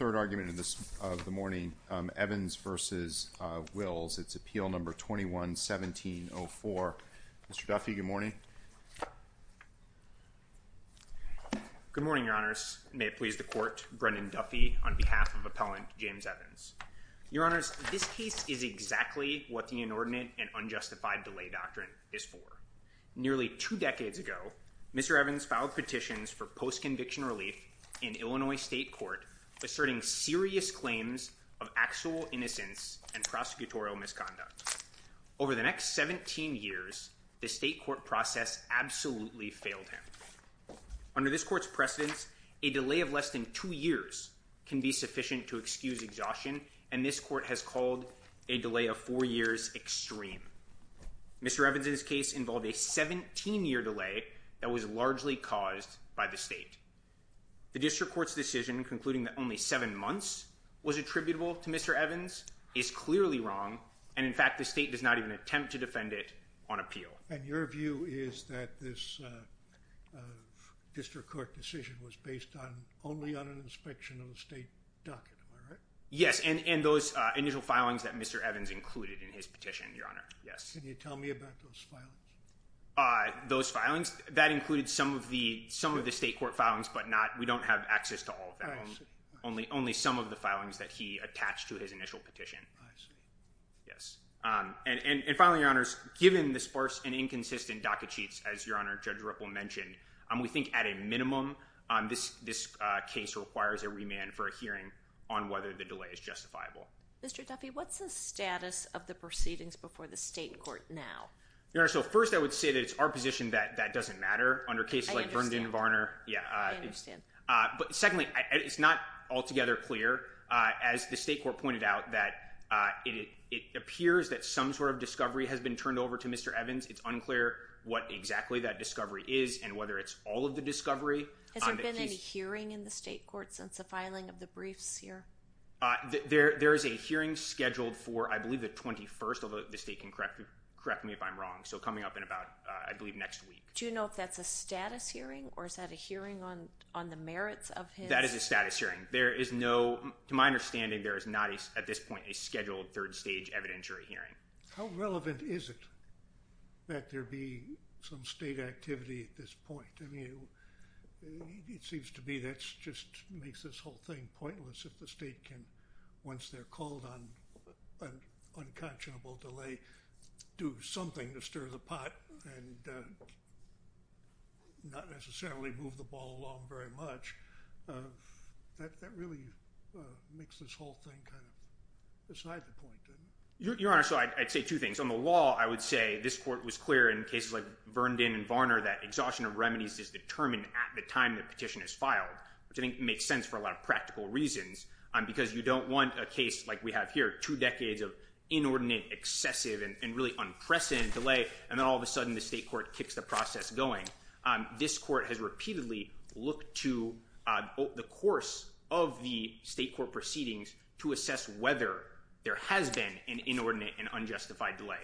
Third argument of the morning, Evans v. Wills, it's Appeal 21-1704. Mr. Duffy, good morning. Good morning, Your Honors. May it please the Court, Brendan Duffy on behalf of Appellant James Evans. Your Honors, this case is exactly what the inordinate and unjustified delay doctrine is for. Nearly two decades ago, Mr. Evans filed petitions for post-conviction relief in Illinois State Court, asserting serious claims of actual innocence and prosecutorial misconduct. Over the next 17 years, the state court process absolutely failed him. Under this court's precedence, a delay of less than two years can be sufficient to excuse exhaustion, and this court has called a delay of four years extreme. Mr. Evans's case involved a 17-year delay that was largely caused by the state. The district court's decision, concluding that only seven months was attributable to Mr. Evans, is clearly wrong, and, in fact, the state does not even attempt to defend it on appeal. And your view is that this district court decision was based only on an inspection of the state document, right? Yes, and those initial filings that Mr. Evans included in his petition, Your Honor, yes. Can you tell me about those filings? Those filings, that included some of the state court filings, but not, we don't have access to all of them, only some of the filings that he attached to his initial petition. I see. Yes, and finally, Your Honors, given the sparse and inconsistent docket sheets, as Your Honor, Judge Ripple mentioned, we think, at a minimum, this case requires a remand for a hearing on whether the delay is justifiable. Mr. Duffy, what's the status of the proceedings before the state court now? Your Honor, so first, I would say that it's our position that that doesn't matter under cases like Verndon-Varner. I understand. Yeah. I understand. But, secondly, it's not altogether clear. As the state court pointed out, that it appears that some sort of discovery has been turned over to Mr. Evans. It's unclear what exactly that discovery is and whether it's all of the discovery. Has there been any hearing in the state court since the filing of the briefs here? There is a hearing scheduled for, I believe, the 21st, although the state can correct me if I'm wrong. So, coming up in about, I believe, next week. Do you know if that's a status hearing or is that a hearing on the merits of his— That is a status hearing. There is no—to my understanding, there is not, at this point, a scheduled third-stage evidentiary hearing. How relevant is it that there be some state activity at this point? I mean, it seems to me that just makes this whole thing pointless if the state can, once they're called on an unconscionable delay, do something to stir the pot and not necessarily move the ball along very much. That really makes this whole thing kind of beside the point. Your Honor, so I'd say two things. On the law, I would say this court was clear in cases like Verndon and Varner that exhaustion of remedies is determined at the time the petition is filed, which I think makes sense for a lot of practical reasons, because you don't want a case like we have here, two decades of inordinate, excessive, and really unprecedented delay, and then all of a sudden the state court kicks the process going. This court has repeatedly looked to the course of the state court proceedings to assess whether there has been an inordinate and unjustified delay.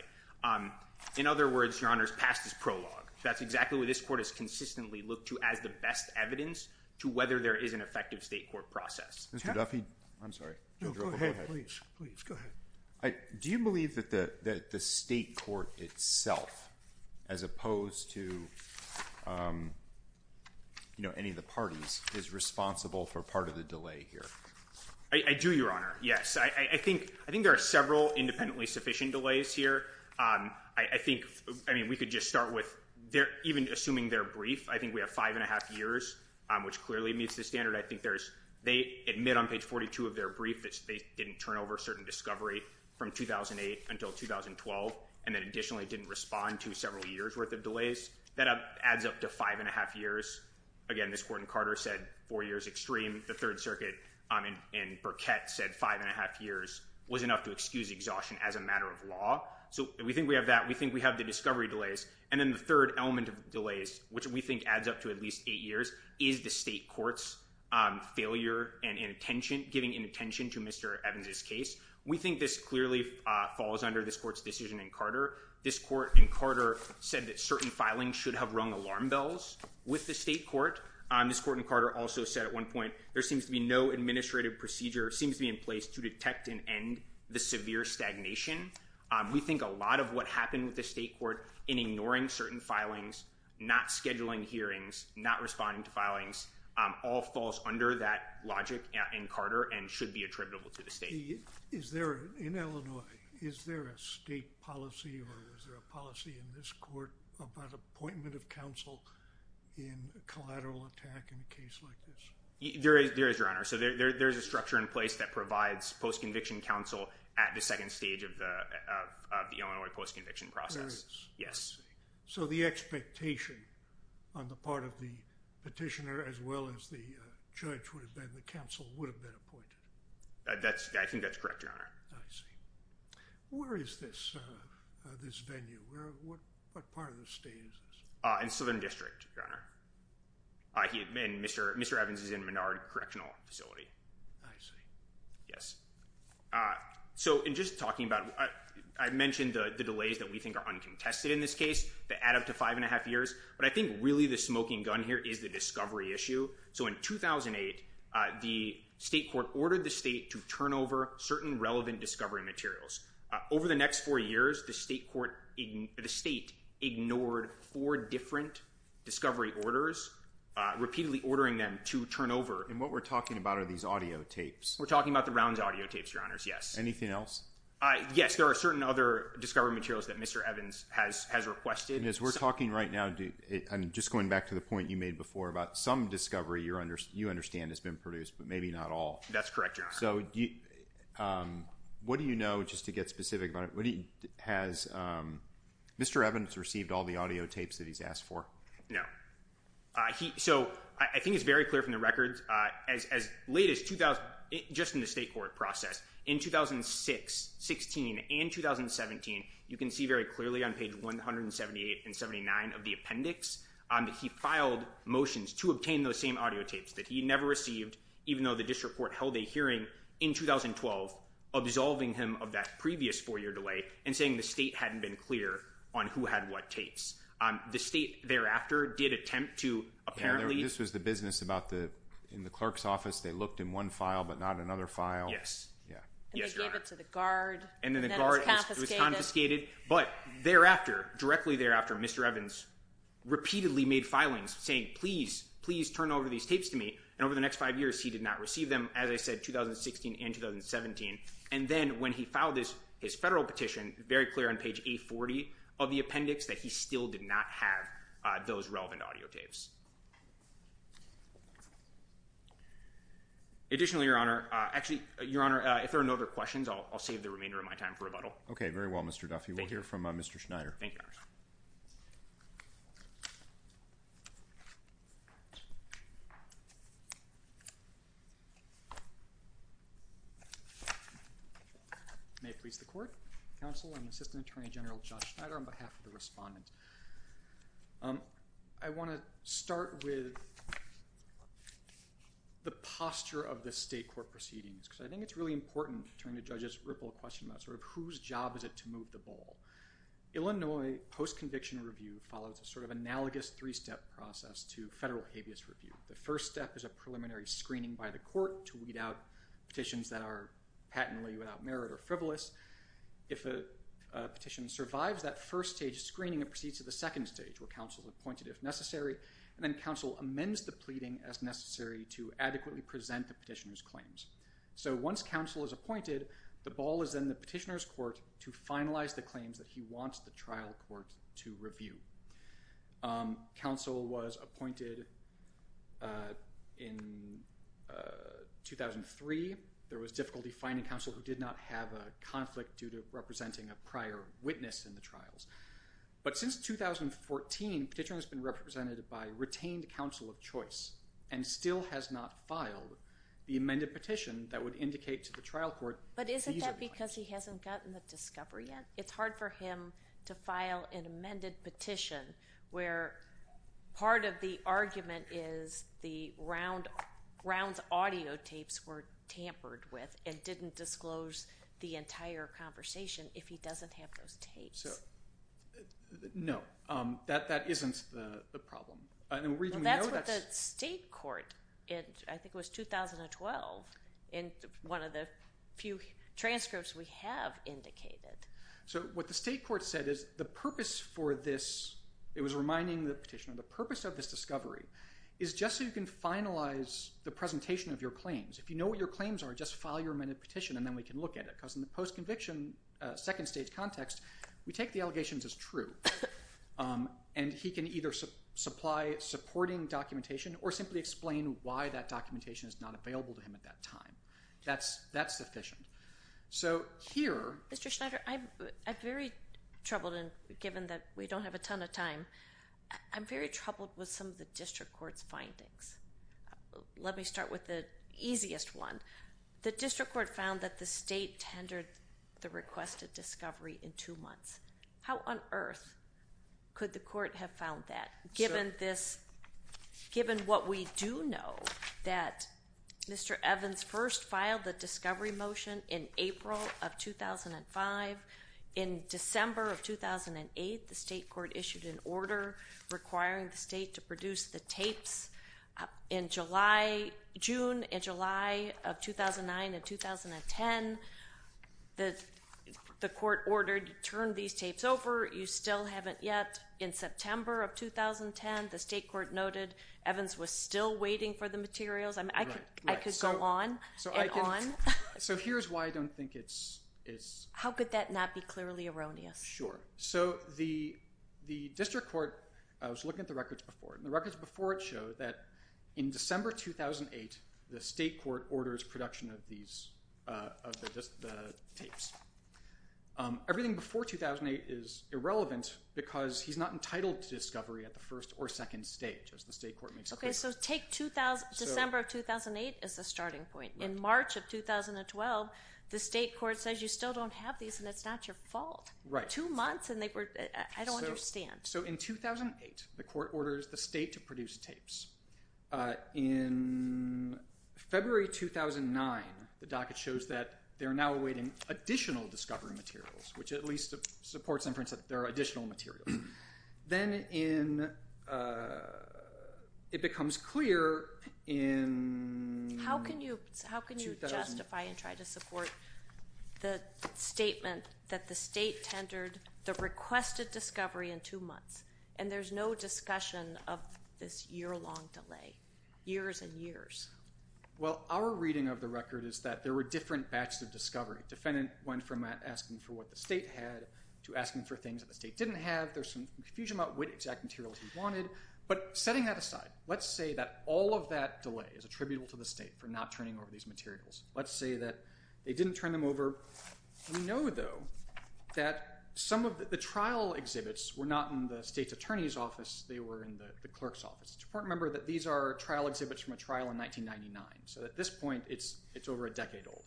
In other words, Your Honor, it's past its prologue. That's exactly what this court has consistently looked to as the best evidence to whether there is an effective state court process. Mr. Duffy? I'm sorry. No, go ahead. Please. Please. Go ahead. Do you believe that the state court itself, as opposed to any of the parties, is responsible for part of the delay here? I do, Your Honor. Yes. I think there are several independently sufficient delays here. I think, I mean, we could just start with, even assuming their brief, I think we have five and a half years, which clearly meets the standard. I think there's, they admit on page 42 of their brief that they didn't turn over certain discovery from 2008 until 2012, and then additionally didn't respond to several years' worth of delays. That adds up to five and a half years. Again, this court in Carter said four years extreme. The Third Circuit in Burkett said five and a half years was enough to excuse exhaustion as a matter of law. So we think we have that. We think we have the discovery delays. And then the third element of delays, which we think adds up to at least eight years, is the state court's failure and inattention, giving inattention to Mr. Evans' case. We think this clearly falls under this court's decision in Carter. This court in Carter said that certain filings should have rung alarm bells with the state court. This court in Carter also said at one point, there seems to be no administrative procedure, seems to be in place to detect and end the severe stagnation. We think a lot of what happened with the state court in ignoring certain filings, not scheduling hearings, not responding to filings, all falls under that logic in Carter and should be attributable to the state. Is there, in Illinois, is there a state policy or is there a policy in this court about appointment of counsel in a collateral attack in a case like this? There is, Your Honor. So there is a structure in place that provides post-conviction counsel at the second stage of the Illinois post-conviction process. There is? Yes. I see. So the expectation on the part of the petitioner as well as the judge would have been the counsel would have been appointed. I think that's correct, Your Honor. I see. Where is this venue? What part of the state is this? In Southern District, Your Honor. And Mr. Evans is in Menard Correctional Facility. I see. Yes. So in just talking about, I mentioned the delays that we think are uncontested in this case that add up to five and a half years, but I think really the smoking gun here is the discovery issue. So in 2008, the state court ordered the state to turn over certain relevant discovery materials. Over the next four years, the state ignored four different discovery orders, repeatedly ordering them to turn over. And what we're talking about are these audio tapes. We're talking about the Rounds audio tapes, Your Honors. Yes. Anything else? Yes. There are certain other discovery materials that Mr. Evans has requested. And as we're talking right now, I'm just going back to the point you made before about some discovery you understand has been produced, but maybe not all. That's correct, Your Honor. So what do you know, just to get specific about it, has Mr. Evans received all the audio tapes that he's asked for? No. So I think it's very clear from the records. As late as 2000, just in the state court process, in 2006, 16, and 2017, you can see very clearly on page 178 and 79 of the appendix that he filed motions to obtain those same audio tapes that he never received, even though the district court held a hearing in 2012, absolving him of that previous four-year delay and saying the state hadn't been clear on who had what tapes. The state thereafter did attempt to apparently... In the clerk's office, they looked in one file, but not another file. Yes. And they gave it to the guard. And then the guard was confiscated. But thereafter, directly thereafter, Mr. Evans repeatedly made filings saying, please, please turn over these tapes to me. And over the next five years, he did not receive them, as I said, 2016 and 2017. And then when he filed his federal petition, very clear on page 840 of the appendix that he still did not have those relevant audio tapes. Additionally, Your Honor, actually, Your Honor, if there are no other questions, I'll save the remainder of my time for rebuttal. Okay. Very well, Mr. Duffy. We'll hear from Mr. Schneider. Thank you, Your Honor. May it please the Court, Counsel, and Assistant Attorney General Josh Schneider on behalf of the respondent. I want to start with the posture of the state court proceedings, because I think it's really important to turn to Judge Ripple's question about sort of whose job is it to move the ball. Illinois post-conviction review follows a sort of analogous three-step process to federal habeas review. The first step is a preliminary screening by the court to weed out petitions that are patently without merit or frivolous. If a petition survives that first stage screening, it proceeds to the second stage, where counsel is appointed if necessary, and then counsel amends the pleading as necessary to adequately present the petitioner's claims. So, once counsel is appointed, the ball is in the petitioner's court to finalize the claims that he wants the trial court to review. Counsel was appointed in 2003. There was difficulty finding counsel who did not have a conflict due to representing a prior witness in the trials. But since 2014, petitioner has been represented by retained counsel of choice and still has not filed the amended petition that would indicate to the trial court these are the claims. But isn't that because he hasn't gotten the discovery yet? It's hard for him to file an amended petition where part of the argument is the round's audio tapes were tampered with and didn't disclose the entire conversation if he doesn't have those tapes. No, that isn't the problem. That's what the state court, I think it was 2012, in one of the few transcripts we have indicated. So what the state court said is the purpose for this, it was reminding the petitioner, the purpose of this discovery is just so you can finalize the presentation of your claims. If you know what your claims are, just file your amended petition and then we can look at it. Because in the post-conviction second stage context, we take the allegations as true. And he can either supply supporting documentation or simply explain why that documentation is not available to him at that time. That's sufficient. So here... Mr. Schneider, I'm very troubled, given that we don't have a ton of time, I'm very troubled with some of the district court's findings. Let me start with the easiest one. The district court found that the state tendered the request of discovery in two months. How on earth could the court have found that, given what we do know, that Mr. Evans first filed the discovery motion in April of 2005. In December of 2008, the state court issued an order requiring the state to produce the tapes. In July, June and July of 2009 and 2010, the court ordered, turn these tapes over, you still haven't yet. In September of 2010, the state court noted Evans was still waiting for the materials. I could go on. So here's why I don't think it's... How could that not be clearly erroneous? Sure. So the district court, I was looking at the records before, and the records before it show that in December 2008, the state court orders production of the tapes. Everything before 2008 is irrelevant because he's not entitled to discovery at the first or second stage, as the state court makes clear. Okay, so take December of 2008 as a starting point. In March of 2012, the state court says you still don't have these and it's not your fault. Right. Two months and they were... I don't understand. So in 2008, the court orders the state to produce tapes. In February 2009, the docket shows that they're now awaiting additional discovery materials, which at least supports inference that there are additional materials. Then it becomes clear in... How can you justify and try to support the statement that the state tendered the requested discovery in two months and there's no discussion of this year-long delay, years and years? Well, our reading of the record is that there were different batches of discovery. Defendant went from asking for what the state had to asking for things that the state didn't have. There's some confusion about what exact materials he wanted. But setting that aside, let's say that all of that delay is attributable to the state for not turning over these materials. Let's say that they didn't turn them over. We know, though, that some of the trial exhibits were not in the state's attorney's office. They were in the clerk's office. It's important to remember that these are trial exhibits from a trial in 1999. So at this point, it's over a decade old.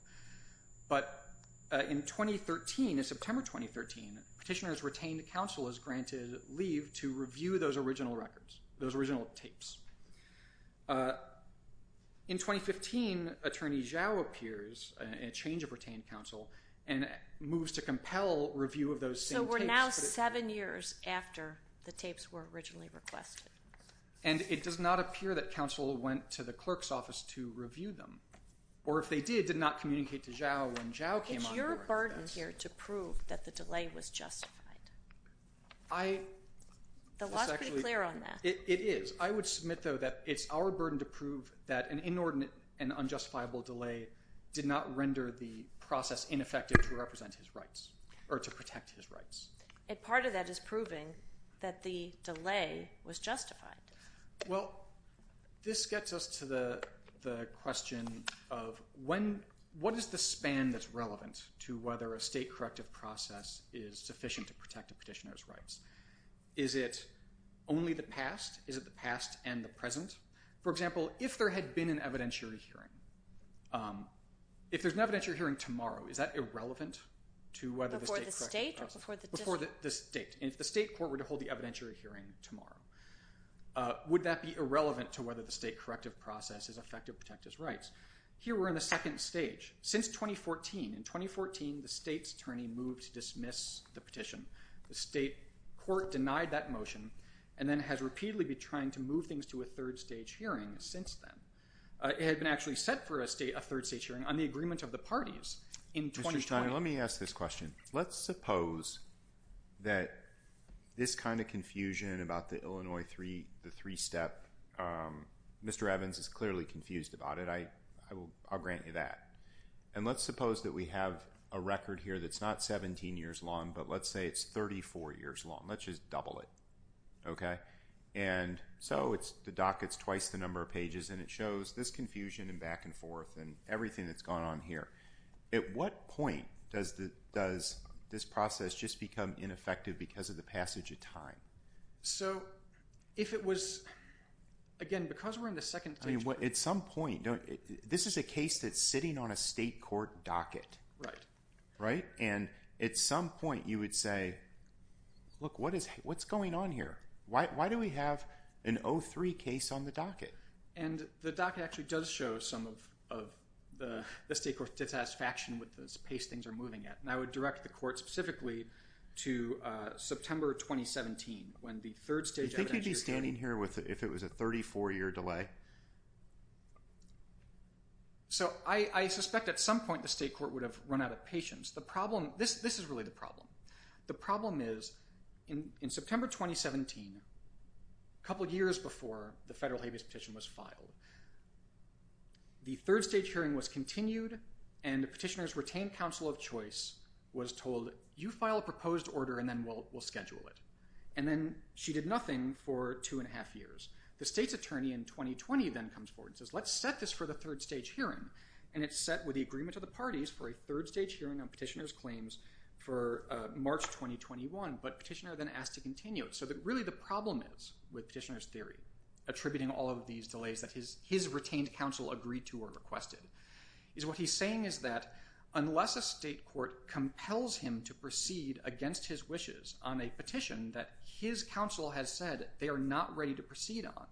But in September 2013, Petitioner's retained counsel is granted leave to review those original records, those original tapes. In 2015, Attorney Zhao appears in a change of retained counsel and moves to compel review of those same tapes. So we're now seven years after the tapes were originally requested. And it does not appear that counsel went to the clerk's office to review them. Or if they did, did not communicate to Zhao when Zhao came on board. It's your burden here to prove that the delay was justified. The law is pretty clear on that. It is. I would submit, though, that it's our burden to prove that an inordinate and unjustifiable delay did not render the process ineffective to represent his rights or to protect his rights. And part of that is proving that the delay was justified. Well, this gets us to the question of what is the span that's relevant to whether a state corrective process is sufficient to protect a petitioner's rights? Is it only the past? Is it the past and the present? For example, if there had been an evidentiary hearing, if there's an evidentiary hearing tomorrow, is that irrelevant to whether the state corrective process? Before the state or before the district? Before the state. And if the state court were to hold the evidentiary hearing tomorrow, would that be irrelevant to whether the state corrective process is effective to protect his rights? Here we're in the second stage. Since 2014, in 2014, the state's attorney moved to dismiss the petition. The state court denied that motion and then has repeatedly been trying to move things to a third stage hearing since then. It had been actually set for a third stage hearing on the agreement of the parties in 2020. Mr. Stein, let me ask this question. Let's suppose that this kind of confusion about the Illinois three-step, Mr. Evans is clearly confused about it. I'll grant you that. And let's suppose that we have a record here that's not 17 years long, but let's say it's 34 years long. Let's just double it. Okay? And so the docket's twice the number of pages and it shows this confusion and back and forth and everything that's gone on here. At what point does this process just become ineffective because of the passage of time? So, if it was, again, because we're in the second stage. At some point, this is a case that's sitting on a state court docket. Right. Right? And at some point you would say, look, what's going on here? Why do we have an 03 case on the docket? And the docket actually does show some of the state court's dissatisfaction with the pace things are moving at. And I would direct the court specifically to September 2017 when the third stage evidence was handed. Do you think you'd be standing here if it was a 34-year delay? So, I suspect at some point the state court would have run out of patience. The problem, this is really the problem. The problem is in September 2017, a couple years before the federal habeas petition was filed, the third stage hearing was continued and the petitioner's retained counsel of choice was told, you file a proposed order and then we'll schedule it. And then she did nothing for two and a half years. The state's attorney in 2020 then comes forward and says, let's set this for the third stage hearing. And it's set with the agreement of the parties for a third stage hearing on petitioner's for March 2021, but petitioner then asked to continue it. So, really the problem is with petitioner's theory attributing all of these delays that his retained counsel agreed to or requested is what he's saying is that unless a state court compels him to proceed against his wishes on a petition that his counsel has said they are not ready to proceed on,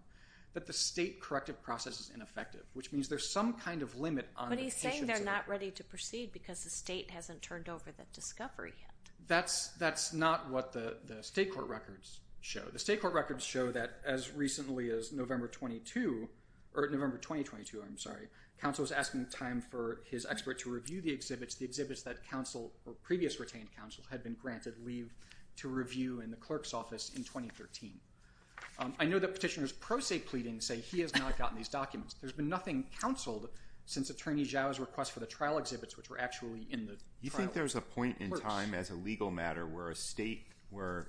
that the state corrective process is ineffective, which means there's some kind of limit on the petition. But he's saying they're not ready to proceed because the state hasn't turned over the discovery yet. That's not what the state court records show. The state court records show that as recently as November 22, or November 2022, I'm sorry, counsel was asking time for his expert to review the exhibits, the exhibits that counsel or previous retained counsel had been granted leave to review in the clerk's office in 2013. I know that petitioner's pro se pleading say he has not gotten these documents. There's been nothing counseled since attorney Zhao's request for the trial exhibits, which were actually in the trial. You think there's a point in time as a legal matter where a state, where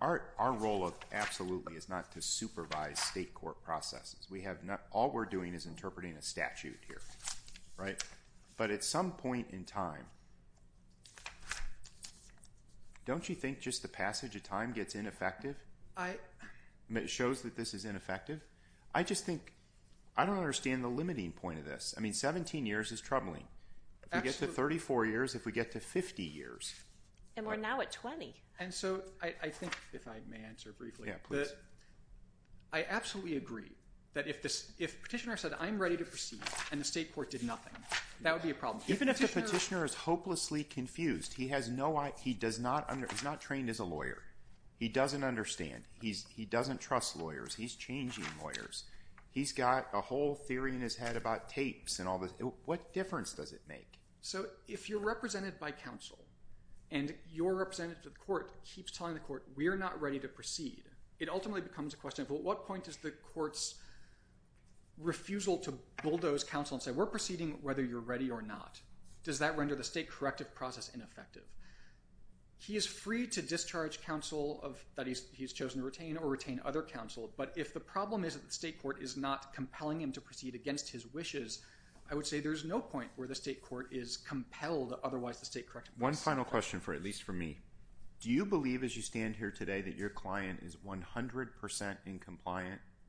our role absolutely is not to supervise state court processes. All we're doing is interpreting a statute here, right? But at some point in time, don't you think just the passage of time gets ineffective? It shows that this is ineffective? I just think, I don't understand the limiting point of this. I mean, 17 years is troubling. If we get to 34 years, if we get to 50 years. And we're now at 20. And so, I think, if I may answer briefly. Yeah, please. I absolutely agree that if petitioner said, I'm ready to proceed, and the state court did nothing, that would be a problem. Even if the petitioner is hopelessly confused. He has no, he does not, he's not trained as a lawyer. He doesn't understand. He doesn't trust lawyers. He's changing lawyers. He's got a whole theory in his head about tapes and all this. What difference does it make? So, if you're represented by counsel, and your representative to the court keeps telling the court, we're not ready to proceed. It ultimately becomes a question of, at what point does the court's refusal to bulldoze counsel and say, we're proceeding whether you're ready or not. Does that render the state corrective process ineffective? He is free to discharge counsel that he's chosen to retain, or retain other counsel. But if the problem is that the state court is not compelling him to proceed against his request, I would say there's no point where the state court is compelled to otherwise the state corrective process. One final question, at least for me. Do you believe, as you stand here today, that your client is 100% in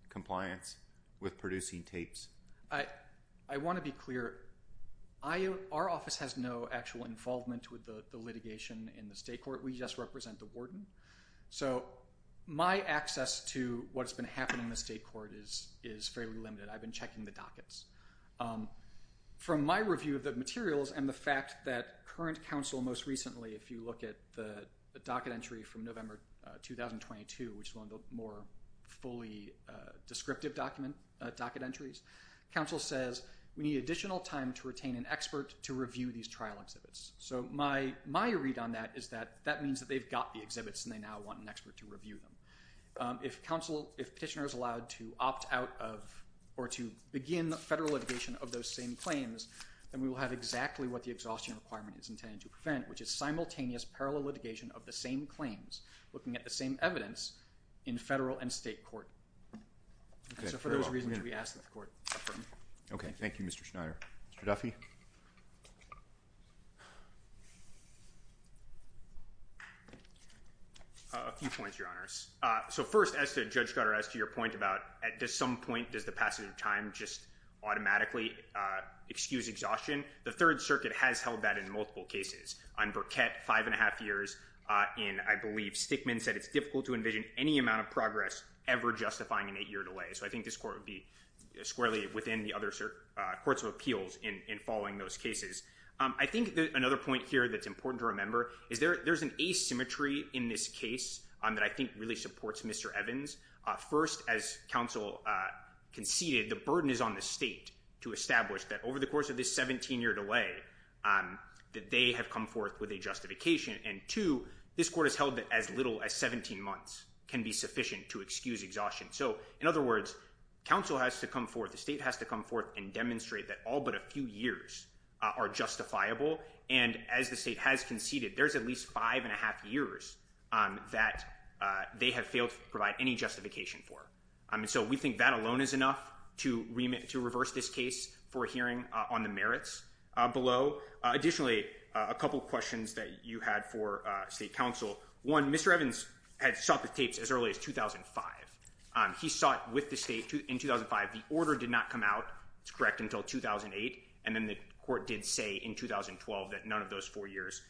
compliance with producing tapes? I want to be clear. Our office has no actual involvement with the litigation in the state court. We just represent the warden. So, my access to what's been happening in the state court is fairly limited. I've been checking the dockets. From my review of the materials and the fact that current counsel most recently, if you look at the docket entry from November 2022, which is one of the more fully descriptive docket entries, counsel says, we need additional time to retain an expert to review these trial exhibits. So, my read on that is that that means that they've got the exhibits and they now want an expert to review them. If counsel, if petitioner is allowed to opt out of or to begin federal litigation of those same claims, then we will have exactly what the exhaustion requirement is intended to prevent, which is simultaneous parallel litigation of the same claims, looking at the same evidence in federal and state court. So, for those reasons, we ask that the court affirm. Okay. Thank you, Mr. Schneider. Mr. Duffy? A few points, Your Honors. So, first, as to Judge Cutter, as to your point about at some point, does the passage of time just automatically excuse exhaustion? The Third Circuit has held that in multiple cases. On Burkett, five and a half years in, I believe, Stickman said it's difficult to envision any amount of progress ever justifying an eight-year delay. So, I think this court would be squarely within the other courts of appeals in following those cases. I think another point here that's important to remember is there's an asymmetry in this case that I think really supports Mr. Evans. First, as counsel conceded, the burden is on the state to establish that over the course of this 17-year delay that they have come forth with a justification. And, two, this court has held that as little as 17 months can be sufficient to excuse exhaustion. So, in other words, counsel has to come forth, the state has to come forth and demonstrate that all but a few years are justifiable. And, as the state has conceded, there's at least five and a half years that they have failed to provide any justification for. So, we think that alone is enough to reverse this case for hearing on the merits below. Additionally, a couple questions that you had for state counsel. One, Mr. Evans had sought the tapes as early as 2005. He sought with the state in 2005. The order did not come out, it's correct, until 2008. And then the court did say in 2012 that none of those four years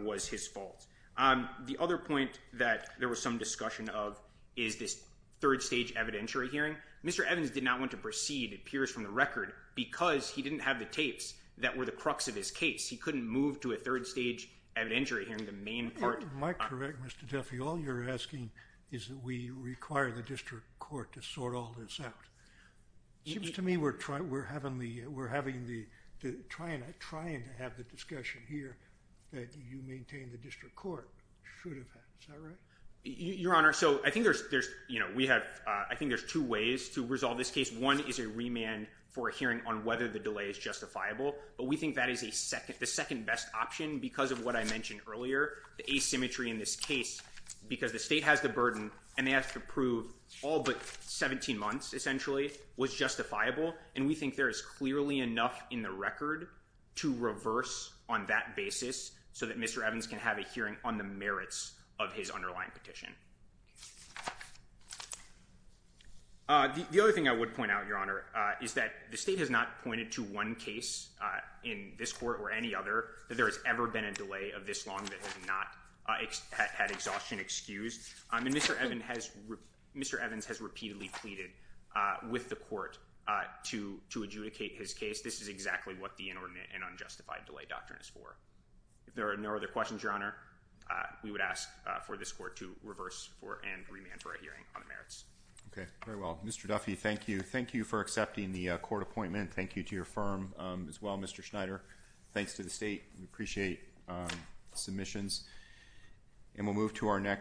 was his fault. The other point that there was some discussion of is this third stage evidentiary hearing. Mr. Evans did not want to proceed, it appears from the record, because he didn't have the tapes that were the crux of his case. He couldn't move to a third stage evidentiary hearing, the main part. Am I correct, Mr. Duffy? All you're asking is that we require the district court to sort all this out. It seems to me we're having the, trying to have the discussion here that you maintain the district court should have had. Is that right? Your Honor, so I think there's, you know, we have, I think there's two ways to resolve this case. One is a remand for a hearing on whether the delay is justifiable. But we think that is a second, the second best option because of what I mentioned earlier, the asymmetry in this case, because the state has the burden and they have to prove all but 17 months essentially was justifiable. And we think there is clearly enough in the record to reverse on that basis so that Mr. Evans can have a hearing on the merits of his underlying petition. The other thing I would point out, Your Honor, is that the state has not pointed to one case in this court or any other that there has ever been a delay of this long that has not had exhaustion excused. And Mr. Evans has repeatedly pleaded with the court to adjudicate his case. This is exactly what the inordinate and unjustified delay doctrine is for. If there are no other questions, Your Honor, we would ask for this court to reverse and remand for a hearing on the merits. Okay. Very well. Mr. Duffy, thank you. Thank you for accepting the court appointment. Thank you to your firm as well, Mr. Schneider. Thanks to the state. We appreciate submissions. And we'll move to our next.